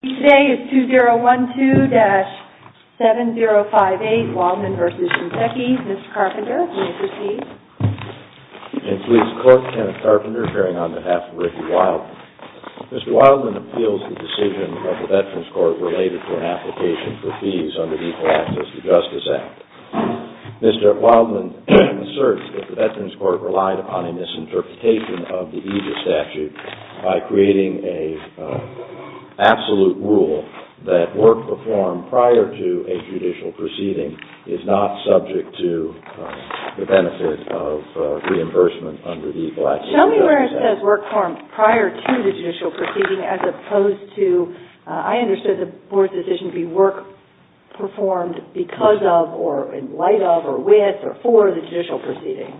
Today is 2012-7058 WILDMAN v. SHINSEKI. Mr. Carpenter, please proceed. In police court, Kenneth Carpenter, chairing on behalf of Ricky Wildman. Mr. Wildman appeals the decision of the Veterans Court related to an application for fees under the Equal Access to Justice Act. Mr. Wildman asserts that the Veterans Court relied upon a misinterpretation of the EGIS statute by creating an absolute rule that work performed prior to a judicial proceeding is not subject to the benefit of reimbursement under the Equal Access to Justice Act. Show me where it says work performed prior to the judicial proceeding as opposed to, I understood the board's decision to be work performed because of or in light of or with or for the judicial proceeding.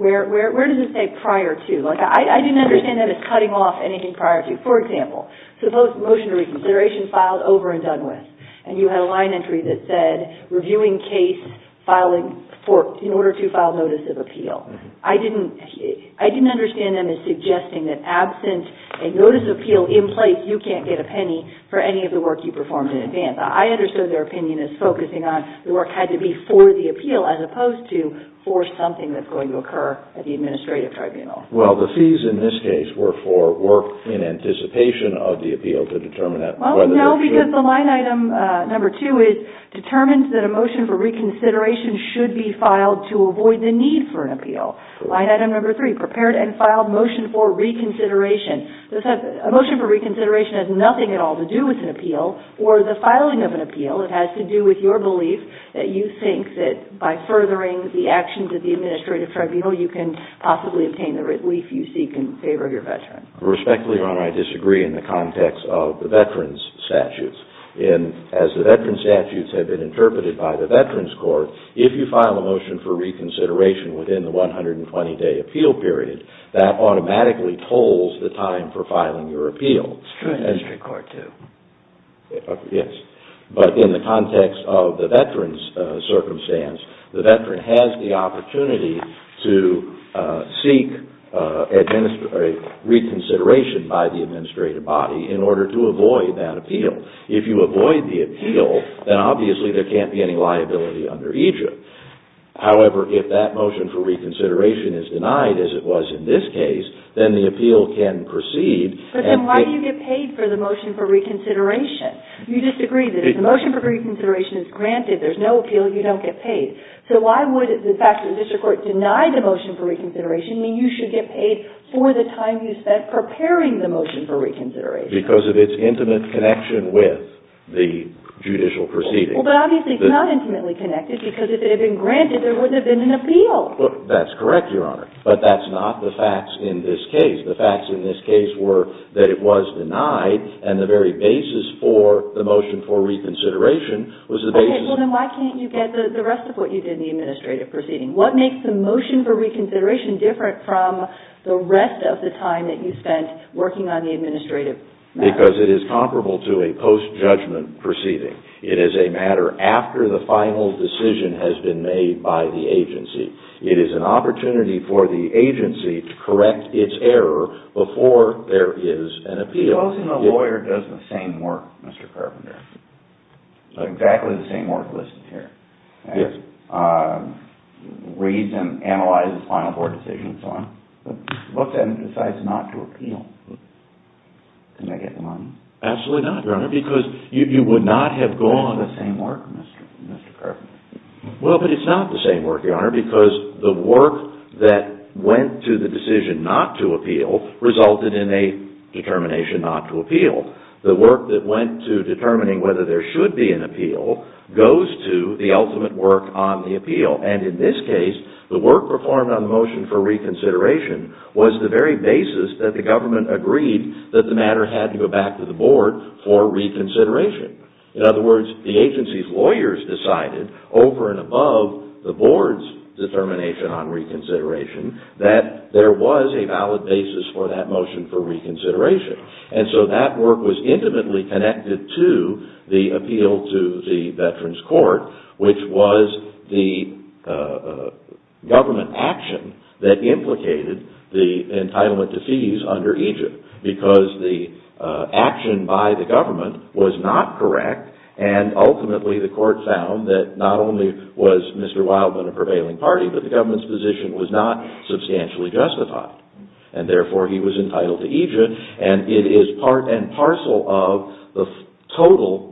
Where does it say prior to? I didn't understand that as cutting off anything prior to. For example, motion to reconsideration filed over and done with. And you had a line entry that said reviewing case in order to file notice of appeal. I didn't understand them as suggesting that absent a notice of appeal in place, you can't get a penny for any of the work you performed in advance. I understood their opinion as focusing on the work had to be for the appeal as opposed to for something that's going to occur at the administrative tribunal. Well, the fees in this case were for work in anticipation of the appeal to determine that. No, because the line item number two is determined that a motion for reconsideration should be filed to avoid the need for an appeal. Line item number three, prepared and filed motion for reconsideration. A motion for reconsideration has nothing at all to do with an appeal or the filing of an appeal. It has to do with your belief that you think that by furthering the actions of the administrative tribunal, you can possibly obtain the relief you seek in favor of your veteran. Respectfully, Your Honor, I disagree in the context of the veteran's statutes. And as the veteran's statutes have been interpreted by the veteran's court, if you file a motion for reconsideration within the 120-day appeal period, that automatically tolls the time for filing your appeal. But in the context of the veteran's circumstance, the veteran has the opportunity to seek reconsideration by the administrative body in order to avoid that appeal. If you avoid the appeal, then obviously there can't be any liability under EJIP. However, if that motion for reconsideration is denied, as it was in this case, then the appeal can proceed. But then why do you get paid for the motion for reconsideration? You disagree that if the motion for reconsideration is granted, there's no appeal, you don't get paid. So why would the fact that the district court denied the motion for reconsideration mean you should get paid for the time you spent preparing the motion for reconsideration? Because of its intimate connection with the judicial proceeding. Well, but obviously it's not intimately connected because if it had been granted, there wouldn't have been an appeal. Well, that's correct, Your Honor, but that's not the facts in this case. The facts in this case were that it was denied and the very basis for the motion for reconsideration was the basis... Okay, well then why can't you get the rest of what you did in the administrative proceeding? What makes the motion for reconsideration different from the rest of the time that you spent working on the administrative matter? Because it is comparable to a post-judgment proceeding. It is a matter after the final decision has been made by the agency. It is an opportunity for the agency to correct its error before there is an appeal. He calls him a lawyer, does the same work, Mr. Carpenter. Exactly the same work listed here. Yes. Reads and analyzes final board decisions and so on. But then decides not to appeal. Can I get the money? Absolutely not, Your Honor, because you would not have gone the same work, Mr. Carpenter. Well, but it's not the same work, Your Honor, because the work that went to the decision not to appeal resulted in a determination not to appeal. The work that went to determining whether there should be an appeal goes to the ultimate work on the appeal. And in this case, the work performed on the motion for reconsideration was the very basis that the government agreed that the matter had to go back to the board for reconsideration. In other words, the agency's lawyers decided over and above the board's determination on reconsideration that there was a valid basis for that motion for reconsideration. And so that work was intimately connected to the appeal to the Veterans Court, which was the government action that implicated the entitlement to fees under EJID. Because the action by the government was not correct, and ultimately the court found that not only was Mr. Wildman a prevailing party, but the government's position was not substantially justified. And therefore, he was entitled to EJID, and it is part and parcel of the total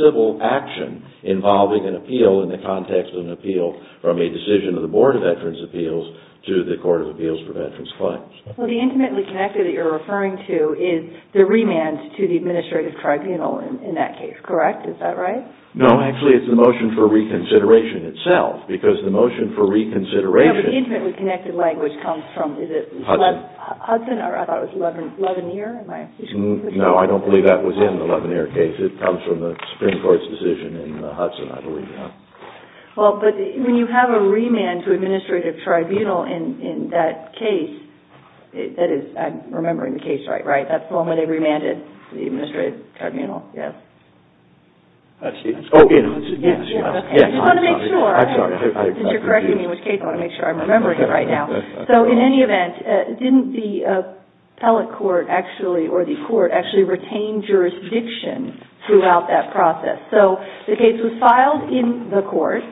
civil action involving an appeal in the context of an appeal from a decision of the Board of Veterans' Appeals to the Court of Appeals for Veterans' Claims. Well, the intimately connected that you're referring to is the remand to the administrative tribunal in that case, correct? Is that right? No, actually, it's the motion for reconsideration itself, because the motion for reconsideration... Hudson? Hudson, or I thought it was Leveneer? No, I don't believe that was in the Leveneer case. It comes from the Supreme Court's decision in Hudson, I believe. Well, but when you have a remand to administrative tribunal in that case, that is, I'm remembering the case right, right? That's the one where they remanded the administrative tribunal, yes? I see. I just want to make sure, since you're correcting me in which case, I want to make sure I'm remembering it right now. So, in any event, didn't the appellate court actually, or the court, actually retain jurisdiction throughout that process? So, the case was filed in the court.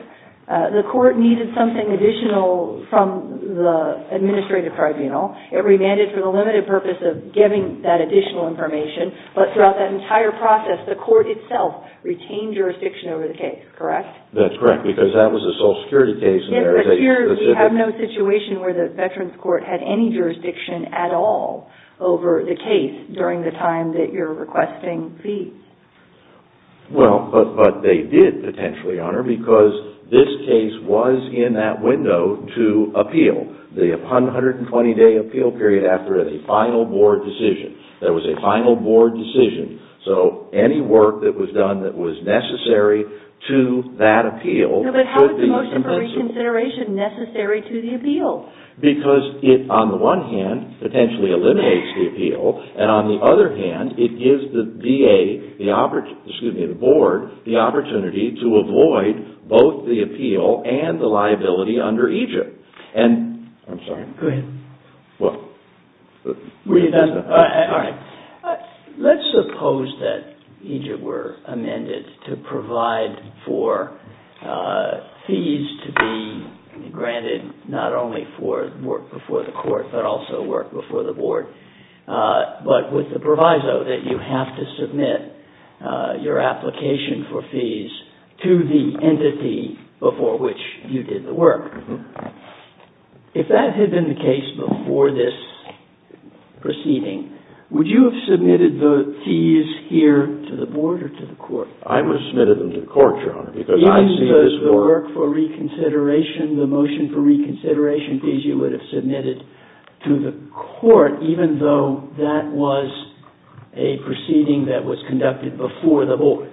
The court needed something additional from the administrative tribunal. It remanded for the limited purpose of giving that additional information, but throughout that entire process, the court itself retained jurisdiction over the case, correct? That's correct, because that was a Social Security case. Yes, but here we have no situation where the Veterans Court had any jurisdiction at all over the case during the time that you're requesting fees. Well, but they did potentially, Honor, because this case was in that window to appeal, the 120-day appeal period after a final board decision. There was a final board decision, so any work that was done that was necessary to that appeal could be compensated. No, but how is the motion for reconsideration necessary to the appeal? Because it, on the one hand, potentially eliminates the appeal, and on the other hand, it gives the VA, excuse me, the board, the opportunity to avoid both the appeal and the liability under EGIP. I'm sorry. Go ahead. All right. Let's suppose that EGIP were amended to provide for fees to be granted not only for work before the court, but also work before the board, but with the proviso that you have to submit your application for fees to the entity before which you did the work. If that had been the case before this proceeding, would you have submitted the fees here to the board or to the court? I would have submitted them to the court, Your Honor, because I see this work. Even the work for reconsideration, the motion for reconsideration fees you would have submitted to the court, even though that was a proceeding that was conducted before the board?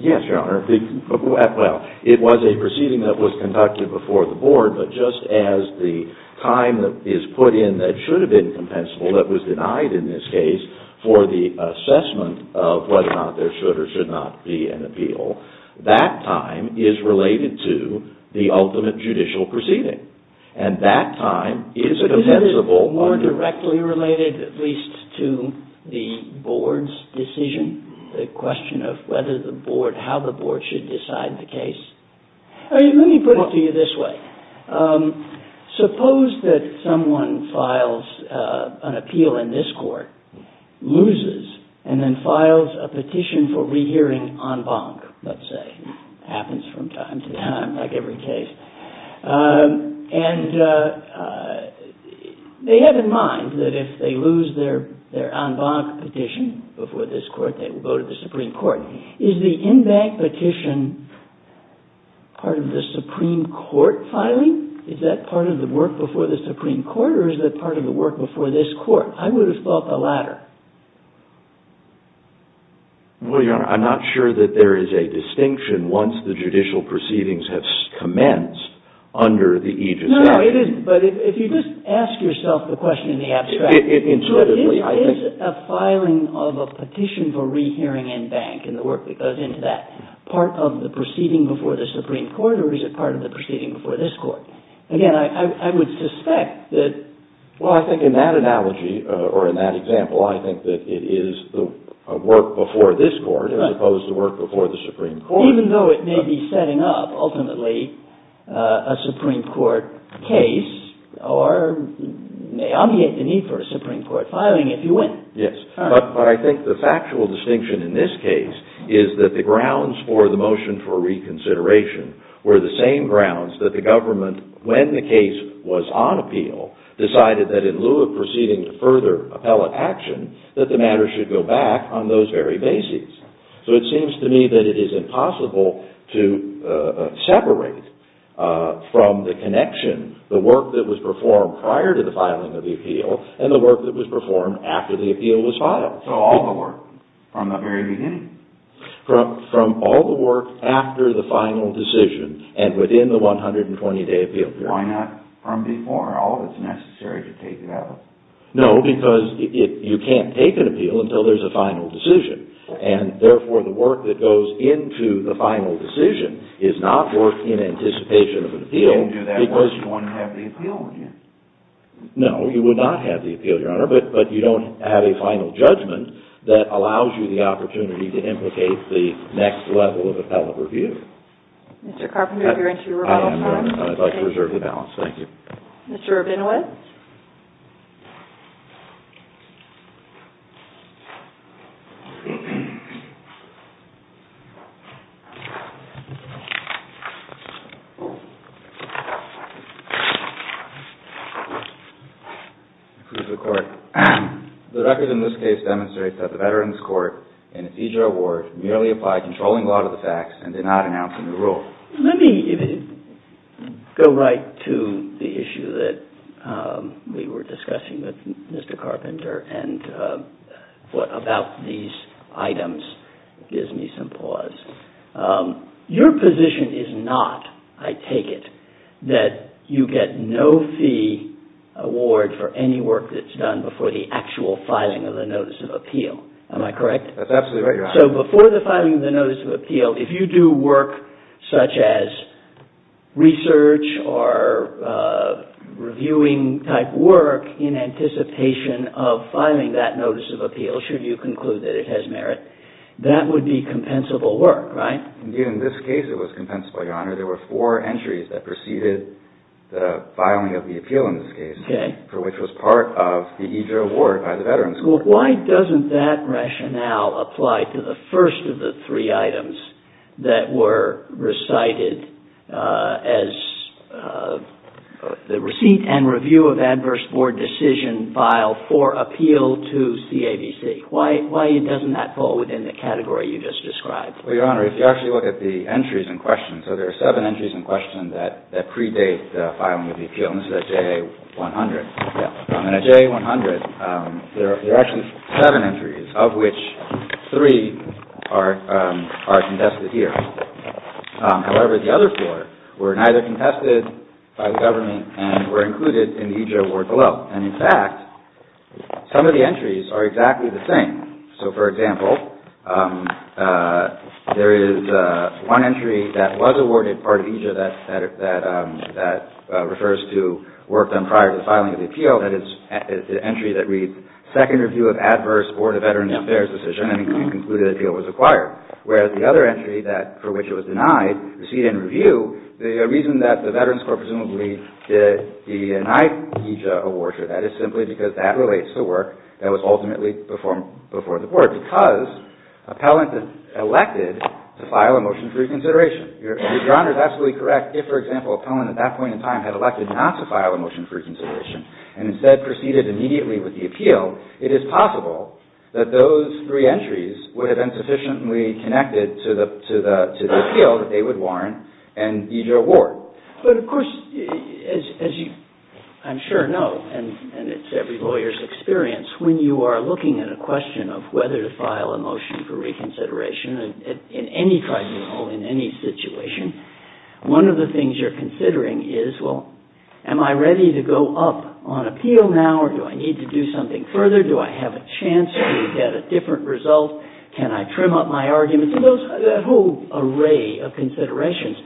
Yes, Your Honor. Well, it was a proceeding that was conducted before the board, but just as the time that is put in that should have been compensable, that was denied in this case, for the assessment of whether or not there should or should not be an appeal, that time is related to the ultimate judicial proceeding, and that time is a compensable. Or more directly related, at least, to the board's decision, the question of whether the board, how the board should decide the case? Let me put it to you this way. Suppose that someone files an appeal in this court, loses, and then files a petition for rehearing en banc, let's say. It happens from time to time, like every case. And they have in mind that if they lose their en banc petition before this court, they will go to the Supreme Court. Is the en banc petition part of the Supreme Court filing? Is that part of the work before the Supreme Court, or is that part of the work before this court? I would have thought the latter. Well, Your Honor, I'm not sure that there is a distinction once the judicial proceedings have commenced under the aegis. No, no, it isn't, but if you just ask yourself the question in the abstract. It is a filing of a petition for rehearing en banc, and the work that goes into that. Part of the proceeding before the Supreme Court, or is it part of the proceeding before this court? Again, I would suspect that... Well, I think in that analogy, or in that example, I think that it is the work before this court, as opposed to work before the Supreme Court. Even though it may be setting up, ultimately, a Supreme Court case, or may obviate the need for a Supreme Court filing if you win. Yes, but I think the factual distinction in this case is that the grounds for the motion for reconsideration were the same grounds that the government, when the case was on appeal, decided that in lieu of proceeding to further appellate action, that the matter should go back on those very bases. So it seems to me that it is impossible to separate from the connection the work that was performed prior to the filing of the appeal, and the work that was performed after the appeal was filed. So all the work from the very beginning? From all the work after the final decision, and within the 120-day appeal period. Why not from before? All that's necessary to take it out. No, because you can't take an appeal until there's a final decision. And therefore, the work that goes into the final decision is not work in anticipation of an appeal. You can't do that unless you want to have the appeal again. No, you would not have the appeal, Your Honor, but you don't have a final judgment that allows you the opportunity to implicate the next level of appellate review. Mr. Carpenter, if you're into rebuttal time? I'd like to reserve the balance. Thank you. Mr. Rabinowitz? I approve the court. The record in this case demonstrates that the Veterans Court, in a FEDRA award, merely applied controlling law to the facts and did not announce a new rule. Let me go right to the issue that we were discussing with Mr. Carpenter, and what about these items gives me some pause. Your position is not, I take it, that you get no fee award for any work that's done before the actual filing of the Notice of Appeal. Am I correct? That's absolutely right, Your Honor. So before the filing of the Notice of Appeal, if you do work such as research or reviewing type work in anticipation of filing that Notice of Appeal, should you conclude that it has merit, that would be compensable work, right? Indeed, in this case it was compensable, Your Honor. There were four entries that preceded the filing of the appeal in this case, for which was part of the FEDRA award by the Veterans Court. Well, why doesn't that rationale apply to the first of the three items that were recited as the receipt and review of adverse board decision file for appeal to CAVC? Why doesn't that fall within the category you just described? Well, Your Honor, if you actually look at the entries in question, so there are seven entries in question that predate the filing of the appeal. This is a JA-100. And a JA-100, there are actually seven entries, of which three are contested here. However, the other four were neither contested by the government and were included in the EJ award below. And, in fact, some of the entries are exactly the same. So, for example, there is one entry that was awarded part of EJ that refers to work done prior to the filing of the appeal. That is the entry that reads, Second review of adverse Board of Veterans Affairs decision and concluded appeal was acquired. Whereas the other entry for which it was denied, receipt and review, the reason that the Veterans Corp presumably did deny EJ awards for that is simply because that relates to work that was ultimately performed before the board because appellant elected to file a motion for reconsideration. Your Honor is absolutely correct. If, for example, appellant at that point in time had elected not to file a motion for reconsideration and instead proceeded immediately with the appeal, it is possible that those three entries would have been sufficiently connected to the appeal that they would warrant an EJ award. But, of course, as you I'm sure know, and it's every lawyer's experience, when you are looking at a question of whether to file a motion for reconsideration in any tribunal, in any situation, one of the things you're considering is, well, am I ready to go up on appeal now or do I need to do something further? Do I have a chance to get a different result? Can I trim up my arguments? That whole array of considerations,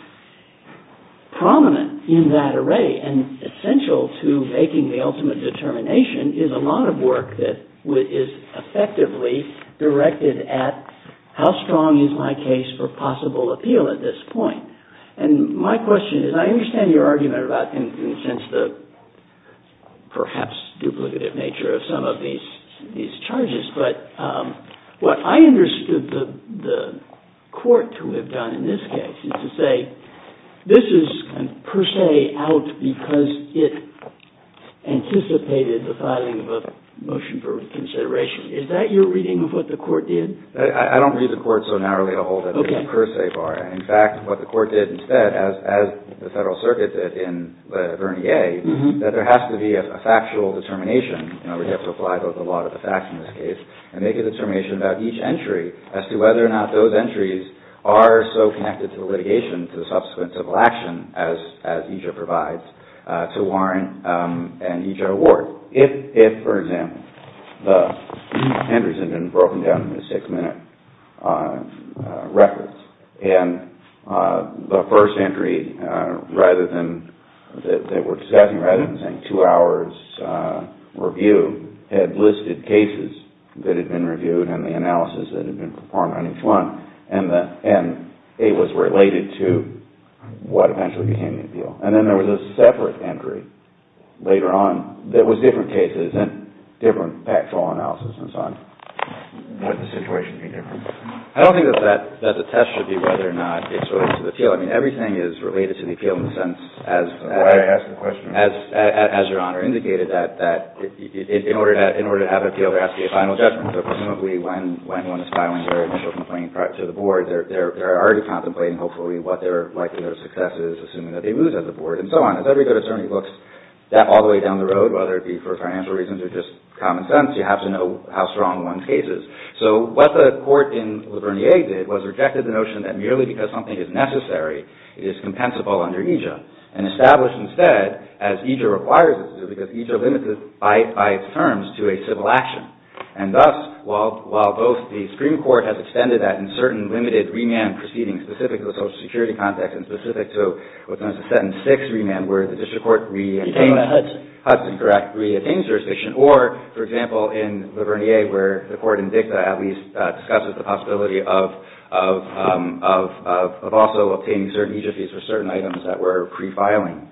prominent in that array and essential to making the ultimate determination is a lot of work that is effectively directed at how strong is my case for possible appeal at this point? And my question is, I understand your argument about, in a sense, the perhaps duplicative nature of some of these charges, but what I understood the court to have done in this case is to say, this is per se out because it anticipated the filing of a motion for reconsideration. Is that your reading of what the court did? I don't read the court so narrowly to hold it as a per se bar. In fact, what the court did instead, as the Federal Circuit did in Vernier, that there has to be a factual determination. We have to apply both the law and the facts in this case and make a determination about each entry as to whether or not those entries are so connected to litigation, to the subsequent civil action, as EJA provides, to warrant an EJA award. If, for example, the entries have been broken down into six-minute records and the first entry, rather than, they were discussing rather than saying two hours review, had listed cases that had been reviewed and the analysis that had been performed on each one and it was related to what eventually became the appeal. And then there was a separate entry later on that was different cases and different factual analysis and so on. Would the situation be different? I don't think that the test should be whether or not it's related to the appeal. I mean, everything is related to the appeal in the sense, as Your Honor indicated, that in order to have an appeal, there has to be a final judgment. So presumably when one is filing their initial complaint to the board, they're already contemplating hopefully what their likelihood of success is, assuming that they lose at the board and so on. As every good attorney looks that all the way down the road, whether it be for financial reasons or just common sense, you have to know how strong one's case is. So what the court in Lavernier did was rejected the notion that merely because something is necessary, it is compensable under EJA and established instead, as EJA requires it to do, because EJA limits it by its terms to a civil action. And thus, while both the Supreme Court has extended that in certain limited remand proceedings specific to the Social Security context and specific to what's known as a sentence 6 remand where the district court reattains Hudson correct, reattains jurisdiction or, for example, in Lavernier where the court in dicta at least discusses the possibility of also obtaining certain egyptes for certain items that were pre-filing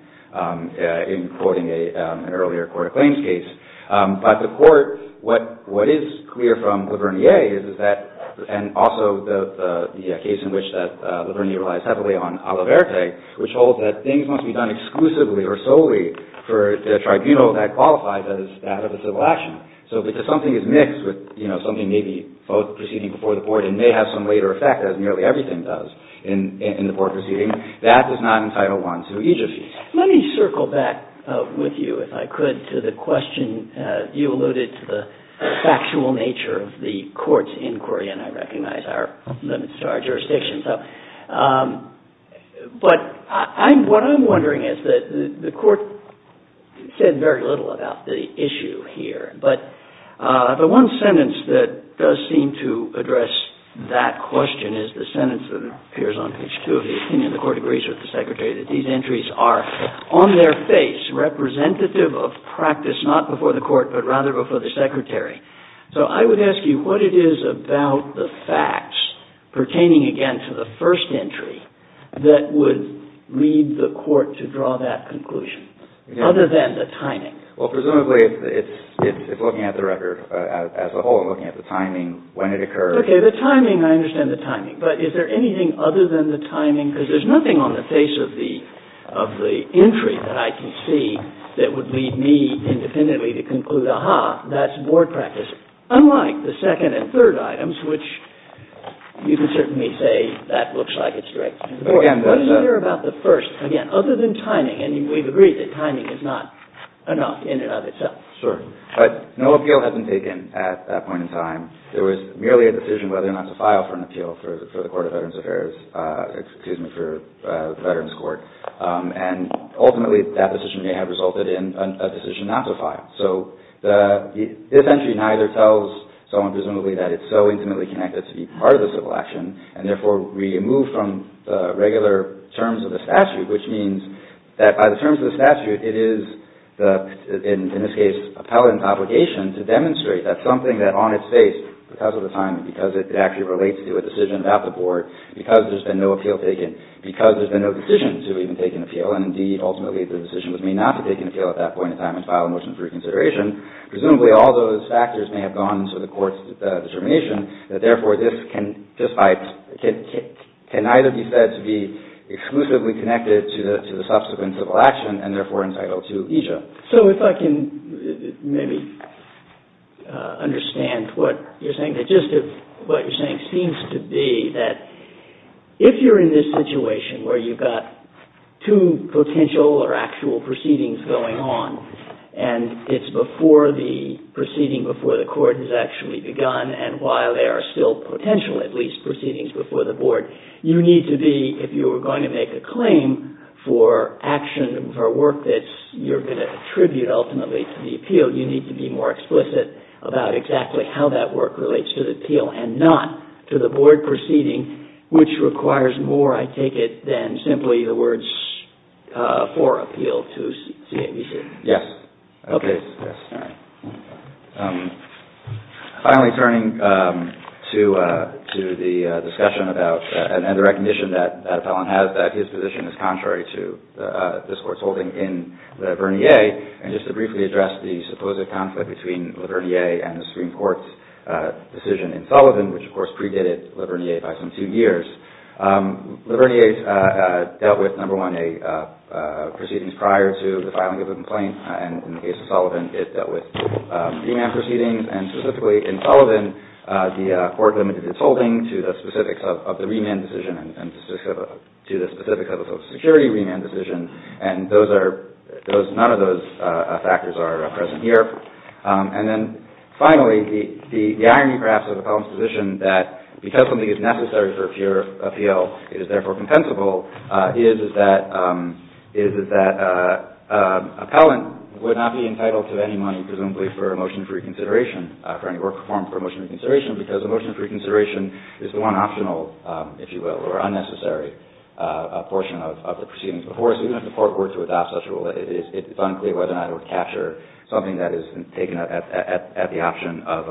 in quoting an earlier court of claims case. But the court, what is clear from Lavernier is that and also the case in which Lavernier relies heavily on a la verte, which holds that things must be done exclusively or solely for the tribunal that qualifies as that of a civil action. So because something is mixed with, you know, something maybe both proceeding before the court and may have some later effect as nearly everything does in the court proceeding, that does not entitle one to EJA fees. Let me circle back with you, if I could, to the question you alluded to the factual nature of the court's inquiry and I recognize our limits to our jurisdictions. But what I'm wondering is that the court said very little about the issue here, but the one sentence that does seem to address that question is the sentence that appears on page 2 of the opinion. The court agrees with the secretary that these entries are on their face, representative of practice not before the court but rather before the secretary. So I would ask you what it is about the facts pertaining again to the first entry that would lead the court to draw that conclusion other than the timing? Well, presumably it's looking at the record as a whole and looking at the timing, when it occurs. Okay, the timing, I understand the timing. But is there anything other than the timing? Because there's nothing on the face of the entry that I can see that would lead me independently to conclude, aha, that's board practice, unlike the second and third items, which you can certainly say that looks like it's directed to the board. What is there about the first, again, other than timing? We've agreed that timing is not enough in and of itself. Sure, but no appeal has been taken at that point in time. There was merely a decision whether or not to file for an appeal for the Court of Veterans Affairs, excuse me, for the Veterans Court, and ultimately that decision may have resulted in a decision not to file. So this entry neither tells someone presumably that it's so intimately connected to be part of the civil action, and therefore removed from the regular terms of the statute, which means that by the terms of the statute, it is the, in this case, appellant's obligation to demonstrate that something that on its face, because of the timing, because it actually relates to a decision about the board, because there's been no appeal taken, because there's been no decision to even take an appeal, and indeed ultimately the decision was made not to take an appeal at that point in time and file a motion for reconsideration, presumably all those factors may have gone to the court's determination that therefore this can either be said to be exclusively connected to the subsequent civil action, and therefore entitled to alegia. So if I can maybe understand what you're saying. Just what you're saying seems to be that if you're in this situation where you've got two potential or actual proceedings going on, and it's before the proceeding before the court has actually begun, and while there are still potential, at least, proceedings before the board, you need to be, if you were going to make a claim for action, for work that you're going to attribute ultimately to the appeal, you need to be more explicit about exactly how that work relates to the appeal and not to the board proceeding, which requires more, I take it, than simply the words for appeal to CNBC. Yes. Okay. Finally, turning to the discussion about and the recognition that Appellant has that his position is contrary to this Court's holding in La Vernier, and just to briefly address the supposed conflict between La Vernier and the Supreme Court's decision in Sullivan, which of course predated La Vernier by some two years. La Vernier dealt with, number one, a proceedings prior to the filing of a complaint, and in the case of Sullivan, it dealt with remand proceedings, and specifically in Sullivan, the Court limited its holding to the specifics of the remand decision and to the specifics of the Social Security remand decision, and none of those factors are present here. And then finally, the irony, perhaps, of Appellant's position that because something is necessary for pure appeal, it is therefore compensable, is that Appellant would not be entitled to any money, presumably, for a motion for reconsideration, for any work performed for a motion for reconsideration, because a motion for reconsideration is the one optional, if you will, or unnecessary portion of the proceedings before us. Even if the Court were to adopt such a rule, it's unclear whether or not it would capture something that is taken at the option of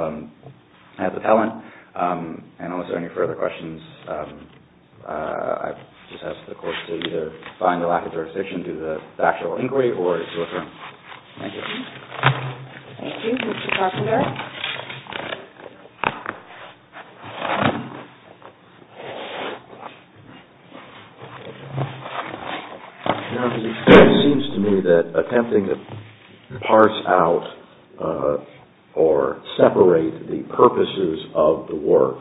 Appellant. And are there any further questions? I just ask the Court to either find a lack of jurisdiction to the factual inquiry or to adjourn. Thank you. Thank you. Mr. Carpenter? Now, it seems to me that attempting to parse out or separate the purposes of the work,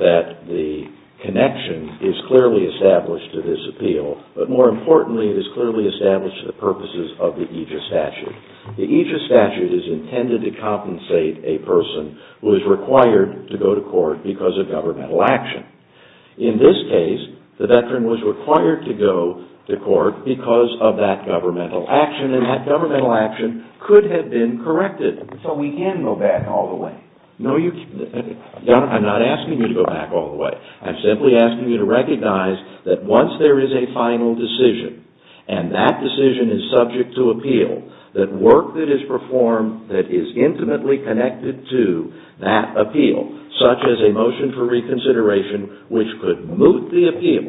that the connection is clearly established to this appeal, but more importantly, it is clearly established to the purposes of the aegis statute. The aegis statute is intended to compensate a person who is required to go to court because of governmental action. In this case, the veteran was required to go to court because of that governmental action, and that governmental action could have been corrected. So we can go back all the way. No, I'm not asking you to go back all the way. I'm simply asking you to recognize that once there is a final decision, and that decision is subject to appeal, that work that is performed that is intimately connected to that appeal, such as a motion for reconsideration, which could moot the appeal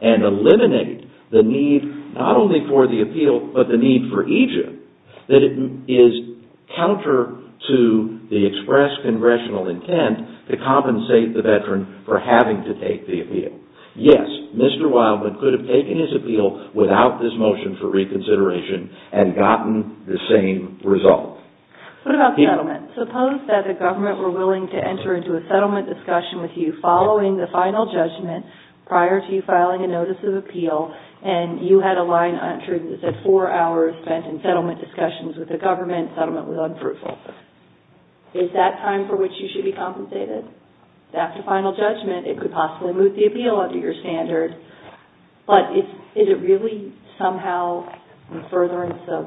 and eliminate the need not only for the appeal, but the need for aegis, that it is counter to the express congressional intent to compensate the veteran for having to take the appeal. Yes, Mr. Wildman could have taken his appeal without this motion for reconsideration and gotten the same result. What about settlement? Suppose that the government were willing to enter into a settlement discussion with you following the final judgment prior to you filing a notice of appeal, and you had a line on it that said four hours spent in settlement discussions with the government. Settlement was unfruitful. Is that time for which you should be compensated? After final judgment, it could possibly moot the appeal under your standard, but is it really somehow a furtherance of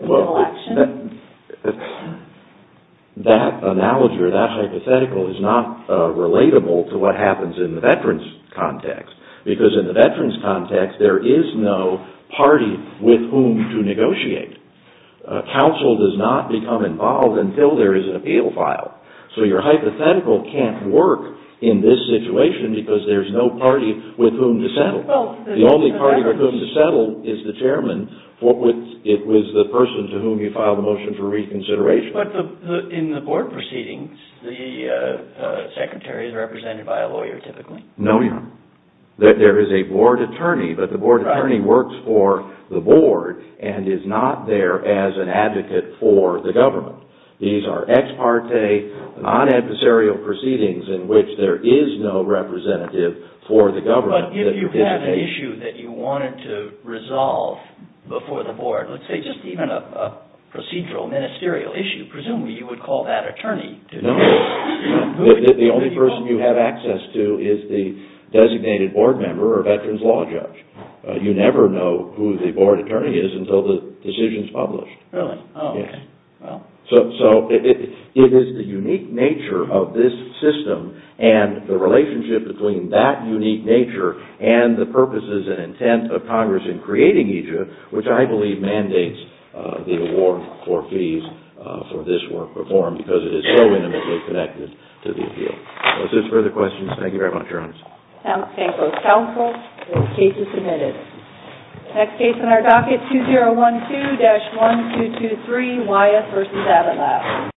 legal action? That analogy or that hypothetical is not relatable to what happens in the veteran's context, because in the veteran's context, there is no party with whom to negotiate. Counsel does not become involved until there is an appeal filed. So your hypothetical can't work in this situation because there is no party with whom to settle. The only party with whom to settle is the chairman. It was the person to whom you filed the motion for reconsideration. But in the board proceedings, the secretary is represented by a lawyer, typically. No, your honor. There is a board attorney, but the board attorney works for the board and is not there as an advocate for the government. These are ex parte, non-adversarial proceedings in which there is no representative for the government. But if you have an issue that you wanted to resolve before the board, let's say just even a procedural, ministerial issue, presumably you would call that attorney. No. The only person you have access to is the designated board member or veteran's law judge. You never know who the board attorney is until the decision is published. Really? Yes. So it is the unique nature of this system and the relationship between that unique nature and the purposes and intent of Congress in creating EJIP, which I believe mandates the award for fees for this work performed because it is so intimately connected to the appeal. Are there further questions? Thank you very much, your honor. Thank you, counsel. The case is submitted. The next case on our docket, 2012-1223, Wyeth v. Avila.